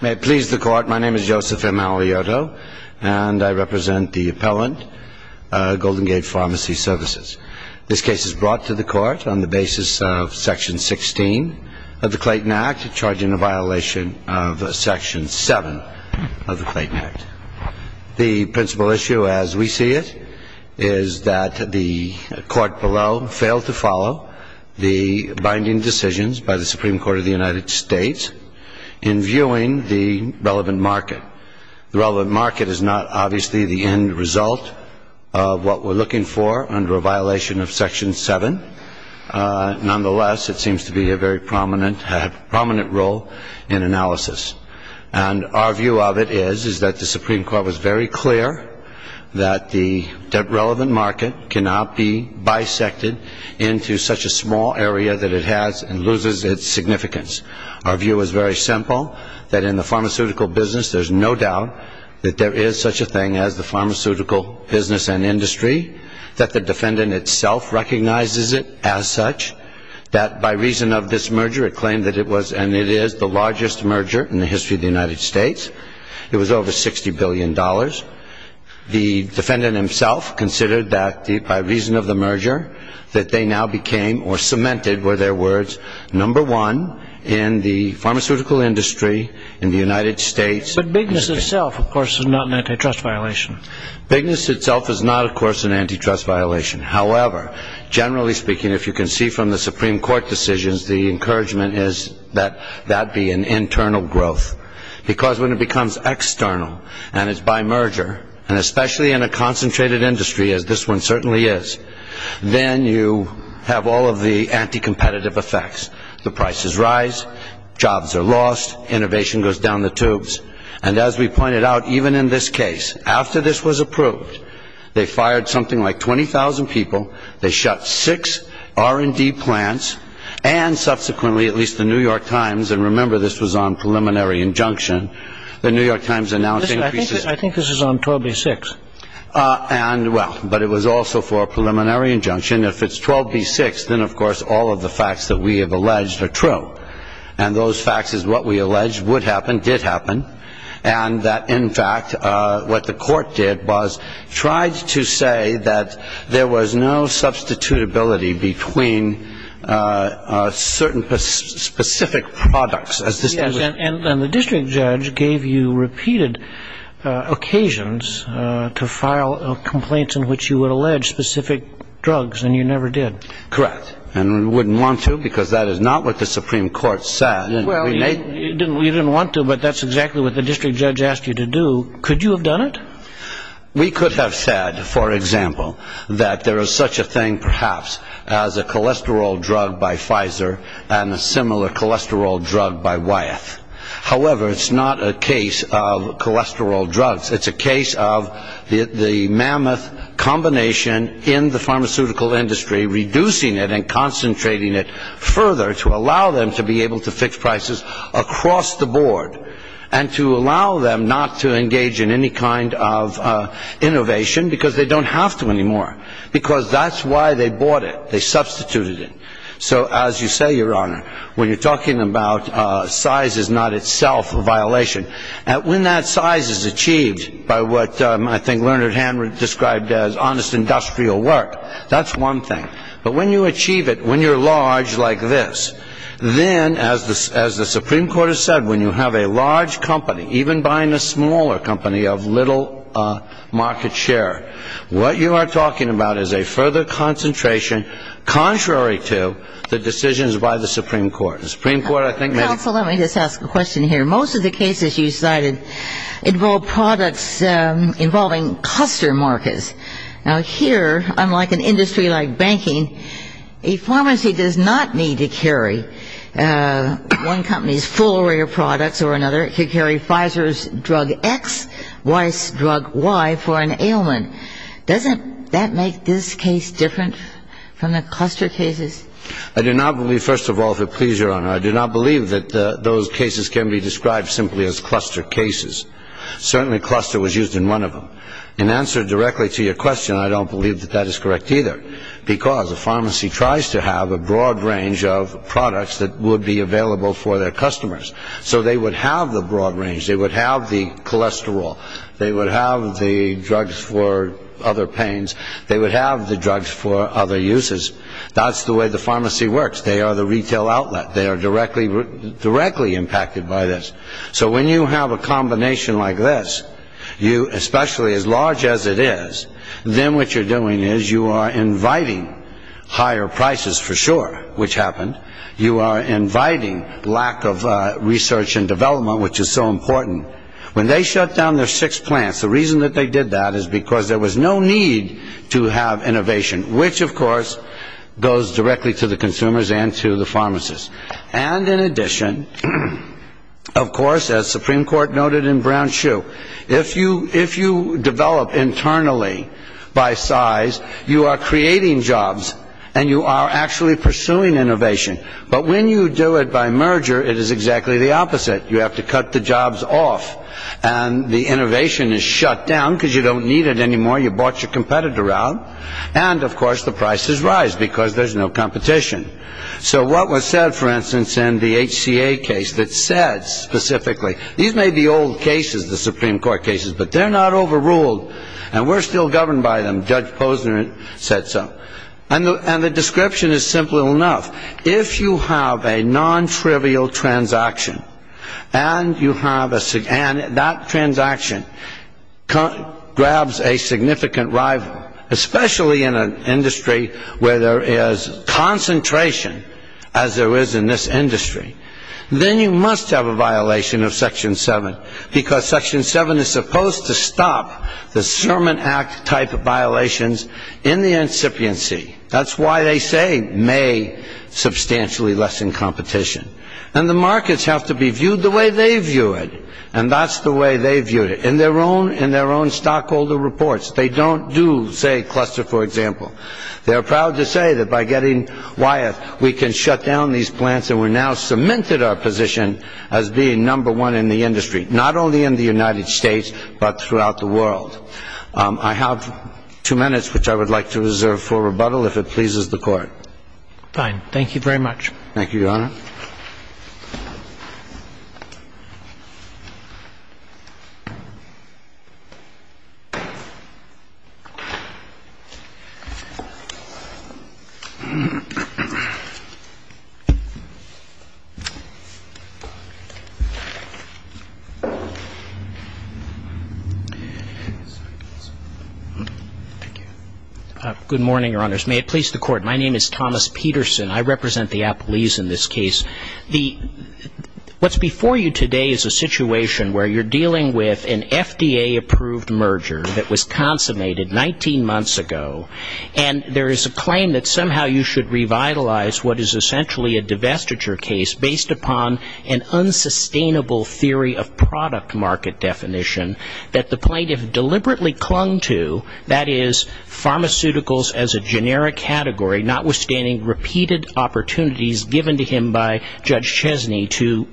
May it please the Court, my name is Joseph M. Alioto and I represent the appellant, Golden Gate Pharmacy Services. This case is brought to the Court on the basis of Section 16 of the Clayton Act, charging a violation of Section 7 of the Clayton Act. The principal issue as we see it is that the Court below failed to follow the binding decisions by the Supreme Court of the United States in viewing the relevant market. The relevant market is not obviously the end result of what we're looking for under a violation of Section 7. Nonetheless, it seems to be a very prominent role in analysis. And our view of it is that the Supreme Court was very clear that the relevant market cannot be bisected into such a small area that it has and loses its significance. Our view is very simple, that in the pharmaceutical business there's no doubt that there is such a thing as the pharmaceutical business and industry, that the defendant itself recognizes it as such, that by reason of this merger it claimed that it was and it is the largest merger in the history of the United States. It was over $60 billion. The defendant himself considered that by reason of the merger that they now became or cemented were their words number one in the pharmaceutical industry in the United States. But bigness itself, of course, is not an antitrust violation. Bigness itself is not, of course, an antitrust violation. However, generally speaking, if you can see from the Supreme Court decisions, the encouragement is that that be an internal growth. Because when it becomes external and it's by merger, and especially in a concentrated industry as this one certainly is, then you have all of the anti-competitive effects. The prices rise. Jobs are lost. Innovation goes down the tubes. And as we pointed out, even in this case, after this was approved, they fired something like 20,000 people. They shut six R&D plants and subsequently, at least the New York Times, and remember this was on preliminary injunction, the New York Times announced increases. I think this is on 12A6. And well, but it was also for a preliminary injunction. If it's 12B6, then, of course, all of the facts that we have alleged are true. And those facts is what we allege would happen, did happen. And that, in fact, what the court did was tried to say that there was no substitutability between certain specific products. And the district judge gave you repeated occasions to file complaints in which you would allege specific drugs, and you never did. Correct. And we wouldn't want to because that is not what the Supreme Court said. Well, you didn't want to, but that's exactly what the district judge asked you to do. Could you have done it? We could have said, for example, that there is such a thing perhaps as a cholesterol drug by Pfizer and a similar cholesterol drug by Wyeth. However, it's not a case of cholesterol drugs. It's a case of the mammoth combination in the pharmaceutical industry reducing it and concentrating it further to allow them to be able to fix prices across the board and to allow them not to engage in any kind of innovation because they don't have to anymore because that's why they bought it. They substituted it. So as you say, Your Honor, when you're talking about size is not itself a violation, when that size is achieved by what I think Leonard Hand described as honest industrial work, that's one thing. But when you achieve it, when you're large like this, then, as the Supreme Court has said, when you have a large company even buying a smaller company of little market share, what you are talking about is a further concentration contrary to the decisions by the Supreme Court. The Supreme Court, I think, may be ---- Counsel, let me just ask a question here. Most of the cases you cited involve products involving cluster markets. Now, here, unlike an industry like banking, a pharmacy does not need to carry one company's full array of products or another. It could carry Pfizer's drug X, Weiss' drug Y for an ailment. Doesn't that make this case different from the cluster cases? I do not believe, first of all, if it pleases Your Honor, I do not believe that those cases can be described simply as cluster cases. Certainly cluster was used in one of them. In answer directly to your question, I don't believe that that is correct either because a pharmacy tries to have a broad range of products that would be available for their customers so they would have the broad range. They would have the cholesterol. They would have the drugs for other pains. They would have the drugs for other uses. That's the way the pharmacy works. They are the retail outlet. They are directly impacted by this. So when you have a combination like this, especially as large as it is, then what you are doing is you are inviting higher prices for sure, which happened. You are inviting lack of research and development, which is so important. When they shut down their six plants, the reason that they did that is because there was no need to have innovation, which, of course, goes directly to the consumers and to the pharmacists. And in addition, of course, as Supreme Court noted in Brown-Shue, if you develop internally by size, you are creating jobs and you are actually pursuing innovation. But when you do it by merger, it is exactly the opposite. You have to cut the jobs off and the innovation is shut down because you don't need it anymore. You bought your competitor out. And, of course, the prices rise because there is no competition. So what was said, for instance, in the HCA case that said specifically, these may be old cases, the Supreme Court cases, but they are not overruled and we are still governed by them. Judge Posner said so. And the description is simple enough. If you have a non-trivial transaction and that transaction grabs a significant rival, especially in an industry where there is concentration as there is in this industry, then you must have a violation of Section 7 because Section 7 is supposed to stop the Sermon Act type of violations in the incipiency. That's why they say may substantially lessen competition. And the markets have to be viewed the way they view it, and that's the way they viewed it. In their own stockholder reports, they don't do, say, cluster, for example. They are proud to say that by getting Wyeth, we can shut down these plants and we're now cemented our position as being number one in the industry, not only in the United States but throughout the world. I have two minutes which I would like to reserve for rebuttal if it pleases the Court. Fine. Thank you, Your Honor. Thank you. Good morning, Your Honors. May it please the Court. My name is Thomas Peterson. I represent the Appleese in this case. What's before you today is a situation where you're dealing with an FDA-approved merger that was consummated 19 months ago, and there is a claim that somehow you should revitalize what is essentially a divestiture of the company. based upon an unsustainable theory of product market definition that the plaintiff deliberately clung to, that is, pharmaceuticals as a generic category, notwithstanding repeated opportunities given to him by Judge Chesney to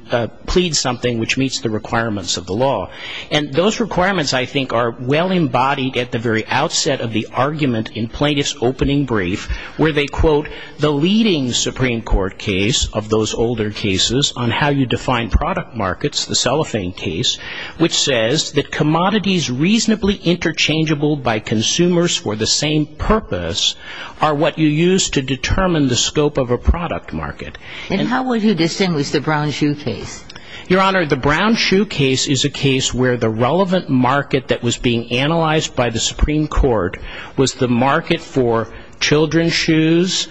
plead something which meets the requirements of the law. And those requirements, I think, are well embodied at the very outset of the argument in Plaintiff's opening brief where they quote the leading Supreme Court case of those older cases on how you define product markets, the Cellophane case, which says that commodities reasonably interchangeable by consumers for the same purpose are what you use to determine the scope of a product market. And how would you distinguish the Brown-Shue case? Your Honor, the Brown-Shue case is a case where the relevant market that was being analyzed by the Supreme Court was the market for children's shoes,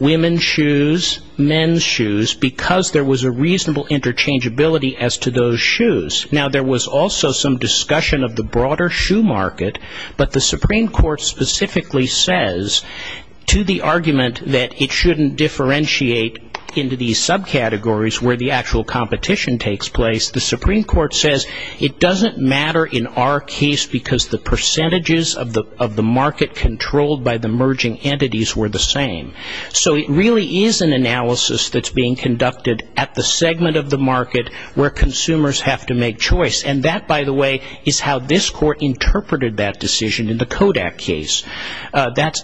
women's shoes, men's shoes, because there was a reasonable interchangeability as to those shoes. Now, there was also some discussion of the broader shoe market, but the Supreme Court specifically says to the argument that it shouldn't differentiate into these subcategories where the actual competition takes place, the Supreme Court says it doesn't matter in our case because the percentages of the market controlled by the merging entities were the same. So it really is an analysis that's being conducted at the segment of the market where consumers have to make choice. And that, by the way, is how this court interpreted that decision in the Kodak case.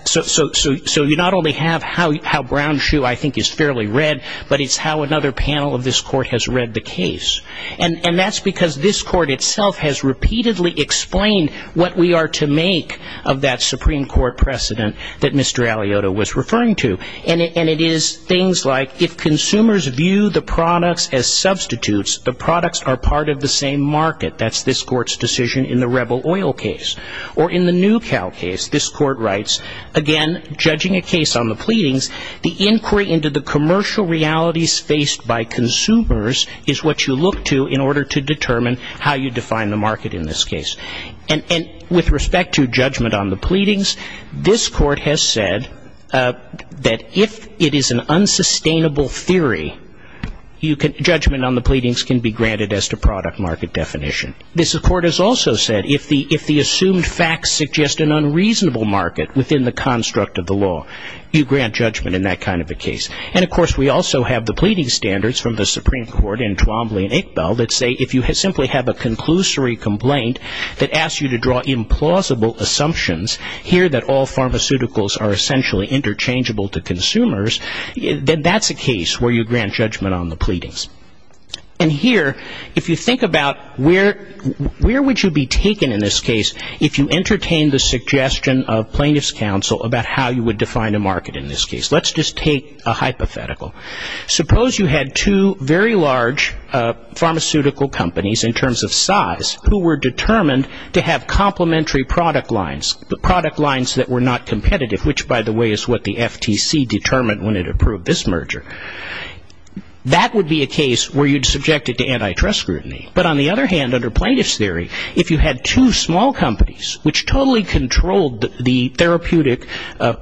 So you not only have how Brown-Shue I think is fairly read, And that's because this court itself has repeatedly explained what we are to make of that Supreme Court precedent that Mr. Aliota was referring to. And it is things like if consumers view the products as substitutes, the products are part of the same market. That's this court's decision in the Rebel Oil case. Or in the NewCal case, this court writes, again, judging a case on the pleadings, the inquiry into the commercial realities faced by consumers is what you look to in order to determine how you define the market in this case. And with respect to judgment on the pleadings, this court has said that if it is an unsustainable theory, judgment on the pleadings can be granted as to product market definition. This court has also said if the assumed facts suggest an unreasonable market within the construct of the law, you grant judgment in that kind of a case. And, of course, we also have the pleading standards from the Supreme Court in Twombly and Iqbal that say if you simply have a conclusory complaint that asks you to draw implausible assumptions, here that all pharmaceuticals are essentially interchangeable to consumers, then that's a case where you grant judgment on the pleadings. And here, if you think about where would you be taken in this case if you entertain the suggestion of plaintiff's counsel about how you would define a market in this case. Let's just take a hypothetical. Suppose you had two very large pharmaceutical companies in terms of size who were determined to have complementary product lines, the product lines that were not competitive, which, by the way, is what the FTC determined when it approved this merger. That would be a case where you'd subject it to antitrust scrutiny. But on the other hand, under plaintiff's theory, if you had two small companies which totally controlled the therapeutic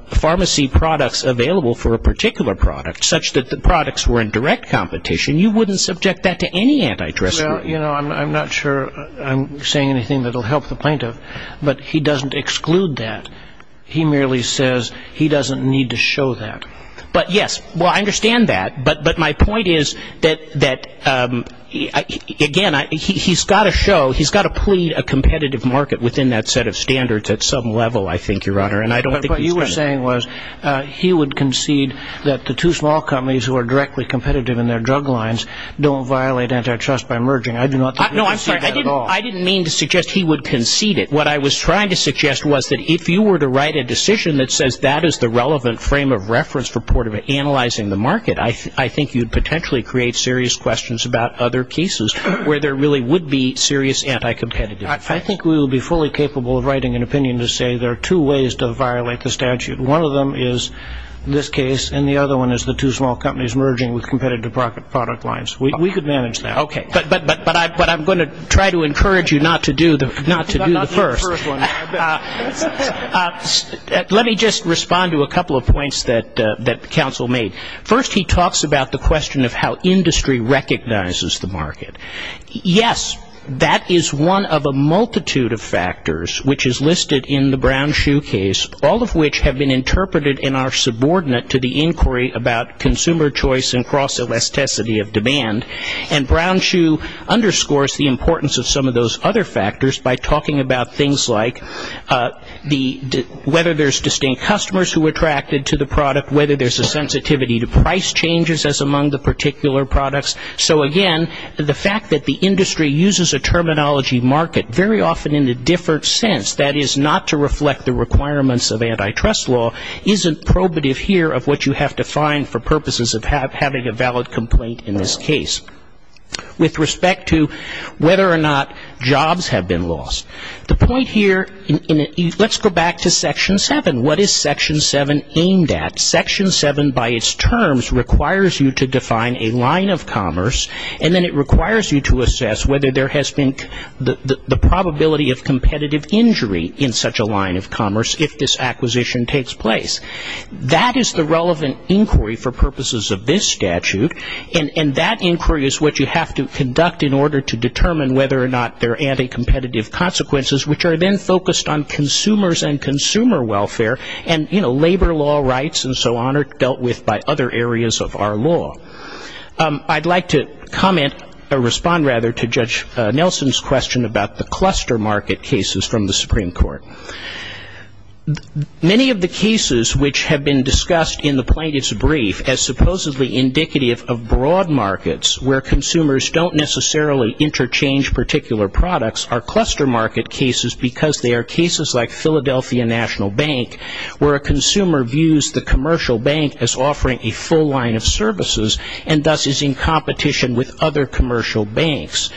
pharmacy products available for a particular product such that the products were in direct competition, you wouldn't subject that to any antitrust scrutiny. Well, you know, I'm not sure I'm saying anything that will help the plaintiff, but he doesn't exclude that. He merely says he doesn't need to show that. But, yes, well, I understand that, but my point is that, again, he's got to show, he's got to plead a competitive market within that set of standards at some level, I think, Your Honor, and I don't think he's going to. But what you were saying was he would concede that the two small companies who are directly competitive in their drug lines don't violate antitrust by merging. I do not think he would concede that at all. No, I'm sorry. I didn't mean to suggest he would concede it. What I was trying to suggest was that if you were to write a decision that says that is the relevant frame of reference for analyzing the market, I think you'd potentially create serious questions about other cases where there really would be serious anti-competitive effect. I think we would be fully capable of writing an opinion to say there are two ways to violate the statute. One of them is this case, and the other one is the two small companies merging with competitive product lines. We could manage that. Okay. But I'm going to try to encourage you not to do the first. Not to do the first one. Let me just respond to a couple of points that counsel made. First, he talks about the question of how industry recognizes the market. Yes, that is one of a multitude of factors which is listed in the Brown-Schuh case, all of which have been interpreted and are subordinate to the inquiry about consumer choice and cross-elasticity of demand. And Brown-Schuh underscores the importance of some of those other factors by talking about things like whether there's distinct customers who are attracted to the product, whether there's a sensitivity to price changes as among the particular products. So, again, the fact that the industry uses a terminology market very often in a different sense, that is not to reflect the requirements of antitrust law, isn't probative here of what you have to find for purposes of having a valid complaint in this case. With respect to whether or not jobs have been lost, the point here, let's go back to Section 7. What is Section 7 aimed at? Section 7 by its terms requires you to define a line of commerce, and then it requires you to assess whether there has been the probability of competitive injury in such a line of commerce if this acquisition takes place. That is the relevant inquiry for purposes of this statute, and that inquiry is what you have to conduct in order to determine whether or not there are anti-competitive consequences, which are then focused on consumers and consumer welfare, and labor law rights and so on are dealt with by other areas of our law. I'd like to comment, or respond rather, to Judge Nelson's question about the cluster market cases from the Supreme Court. Many of the cases which have been discussed in the plaintiff's brief as supposedly indicative of broad markets where consumers don't necessarily interchange particular products are cluster market cases because they are cases like Philadelphia National Bank, where a consumer views the commercial bank as offering a full line of services and thus is in competition with other commercial banks.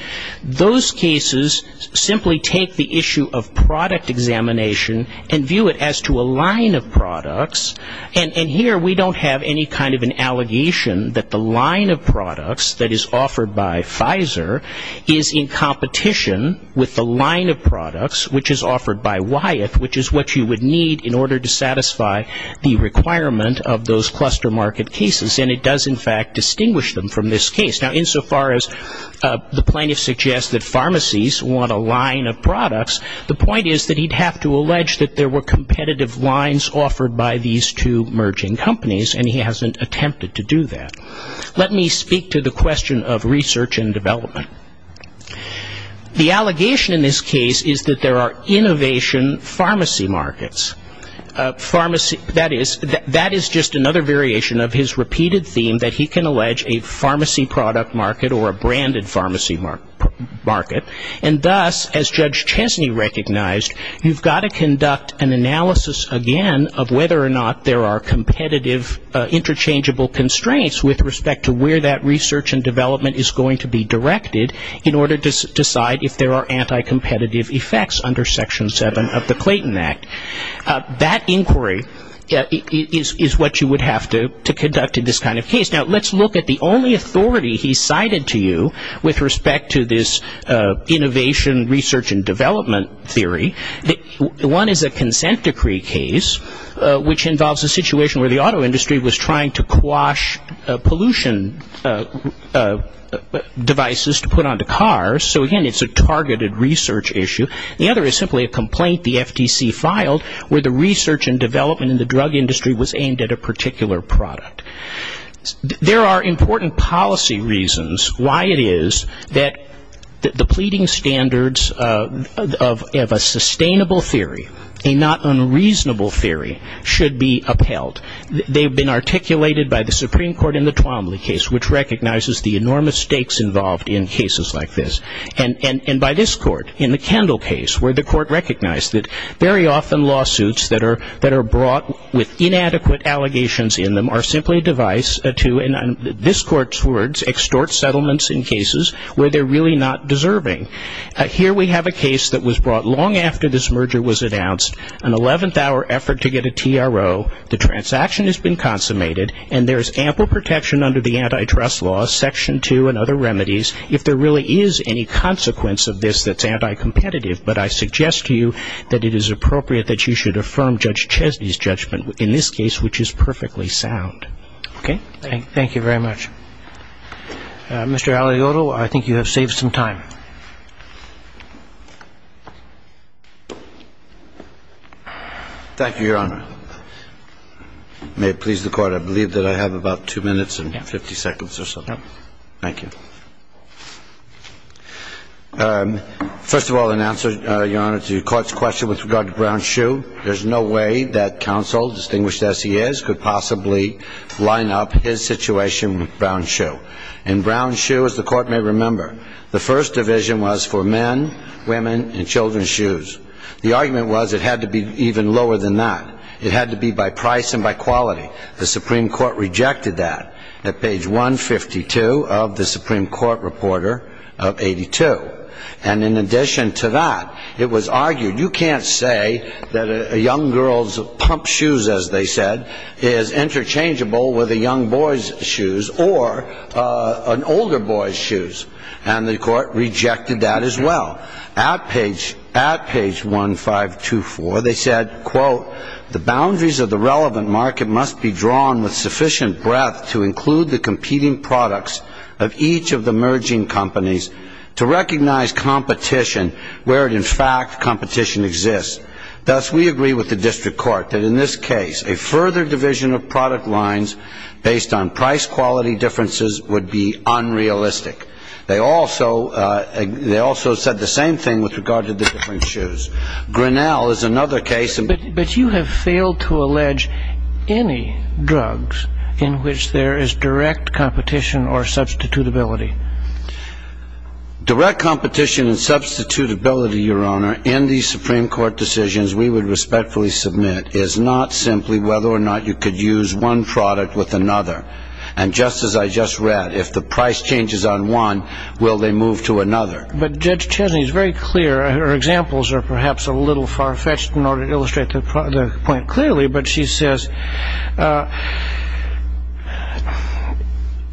Those cases simply take the issue of product examination and view it as to a line of products, and here we don't have any kind of an allegation that the line of products that is offered by Pfizer is in competition with the line of products which is offered by Wyeth, which is what you would need in order to satisfy the requirement of those cluster market cases, and it does in fact distinguish them from this case. Now, insofar as the plaintiff suggests that pharmacies want a line of products, the point is that he'd have to allege that there were competitive lines offered by these two merging companies, and he hasn't attempted to do that. Let me speak to the question of research and development. The allegation in this case is that there are innovation pharmacy markets. That is just another variation of his repeated theme that he can allege a pharmacy product market or a branded pharmacy market, and thus as Judge Chesney recognized, you've got to conduct an analysis again of whether or not there are competitive interchangeable constraints with respect to where that research and development is going to be directed in order to decide if there are anti-competitive effects under Section 7 of the Clayton Act. That inquiry is what you would have to conduct in this kind of case. Now, let's look at the only authority he cited to you with respect to this innovation research and development theory. One is a consent decree case, which involves a situation where the auto industry was trying to quash pollution devices to put onto cars, so again, it's a targeted research issue. The other is simply a complaint the FTC filed where the research and development in the drug industry was aimed at a particular product. There are important policy reasons why it is that the pleading standards of a sustainable theory, a not unreasonable theory, should be upheld. They've been articulated by the Supreme Court in the Twombly case, which recognizes the enormous stakes involved in cases like this, and by this court in the Kendall case where the court recognized that very often lawsuits that are brought with inadequate allegations in them are simply a device to, in this court's words, extort settlements in cases where they're really not deserving. Here we have a case that was brought long after this merger was announced, an 11th hour effort to get a TRO, the transaction has been consummated, and there's ample protection under the antitrust law, Section 2 and other remedies. If there really is any consequence of this that's anti-competitive, but I suggest to you that it is appropriate that you should affirm Judge Chesney's judgment in this case, which is perfectly sound. Okay, thank you very much. Mr. Aliotto, I think you have saved some time. Thank you, Your Honor. May it please the Court, I believe that I have about two minutes and 50 seconds or so. Thank you. First of all, in answer, Your Honor, to the Court's question with regard to Brown's shoe, there's no way that counsel, distinguished as he is, could possibly line up his situation with Brown's shoe. In Brown's shoe, as the Court may remember, the first division was for men, women, and children's shoes. The argument was it had to be even lower than that. It had to be by price and by quality. The Supreme Court rejected that at page 152 of the Supreme Court Reporter of 82. And in addition to that, it was argued you can't say that a young girl's pump shoes, as they said, is interchangeable with a young boy's shoes or an older boy's shoes. And the Court rejected that as well. At page 1524, they said, quote, the boundaries of the relevant market must be drawn with sufficient breadth to include the competing products of each of the merging companies to recognize competition where, in fact, competition exists. Thus, we agree with the district court that in this case, a further division of product lines based on price quality differences would be unrealistic. They also said the same thing with regard to the different shoes. Grinnell is another case. But you have failed to allege any drugs in which there is direct competition or substitutability. Direct competition and substitutability, Your Honor, in these Supreme Court decisions we would respectfully submit is not simply whether or not you could use one product with another. And just as I just read, if the price changes on one, will they move to another? But Judge Chesney is very clear. Her examples are perhaps a little far-fetched in order to illustrate the point clearly. But she says,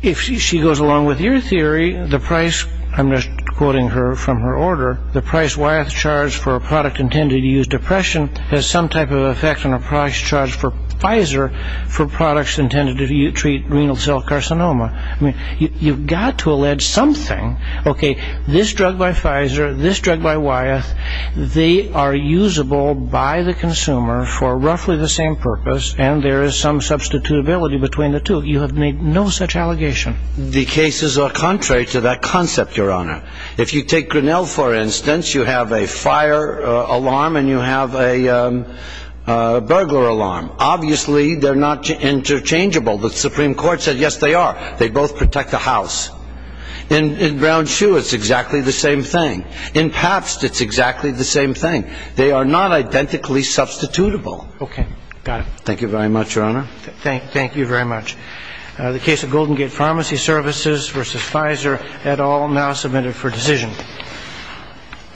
if she goes along with your theory, the price, I'm just quoting her from her order, the price Wyeth charged for a product intended to use depression has some type of effect on a price charged for Pfizer for products intended to treat renal cell carcinoma. I mean, you've got to allege something. Okay, this drug by Pfizer, this drug by Wyeth, they are usable by the consumer for roughly the same purpose and there is some substitutability between the two. You have made no such allegation. The cases are contrary to that concept, Your Honor. If you take Grinnell, for instance, you have a fire alarm and you have a burglar alarm. Obviously, they're not interchangeable. The Supreme Court said, yes, they are. They both protect the house. In Brown-Shue, it's exactly the same thing. In Pabst, it's exactly the same thing. They are not identically substitutable. Okay, got it. Thank you very much, Your Honor. Thank you very much. The case of Golden Gate Pharmacy Services v. Pfizer, et al., now submitted for decision.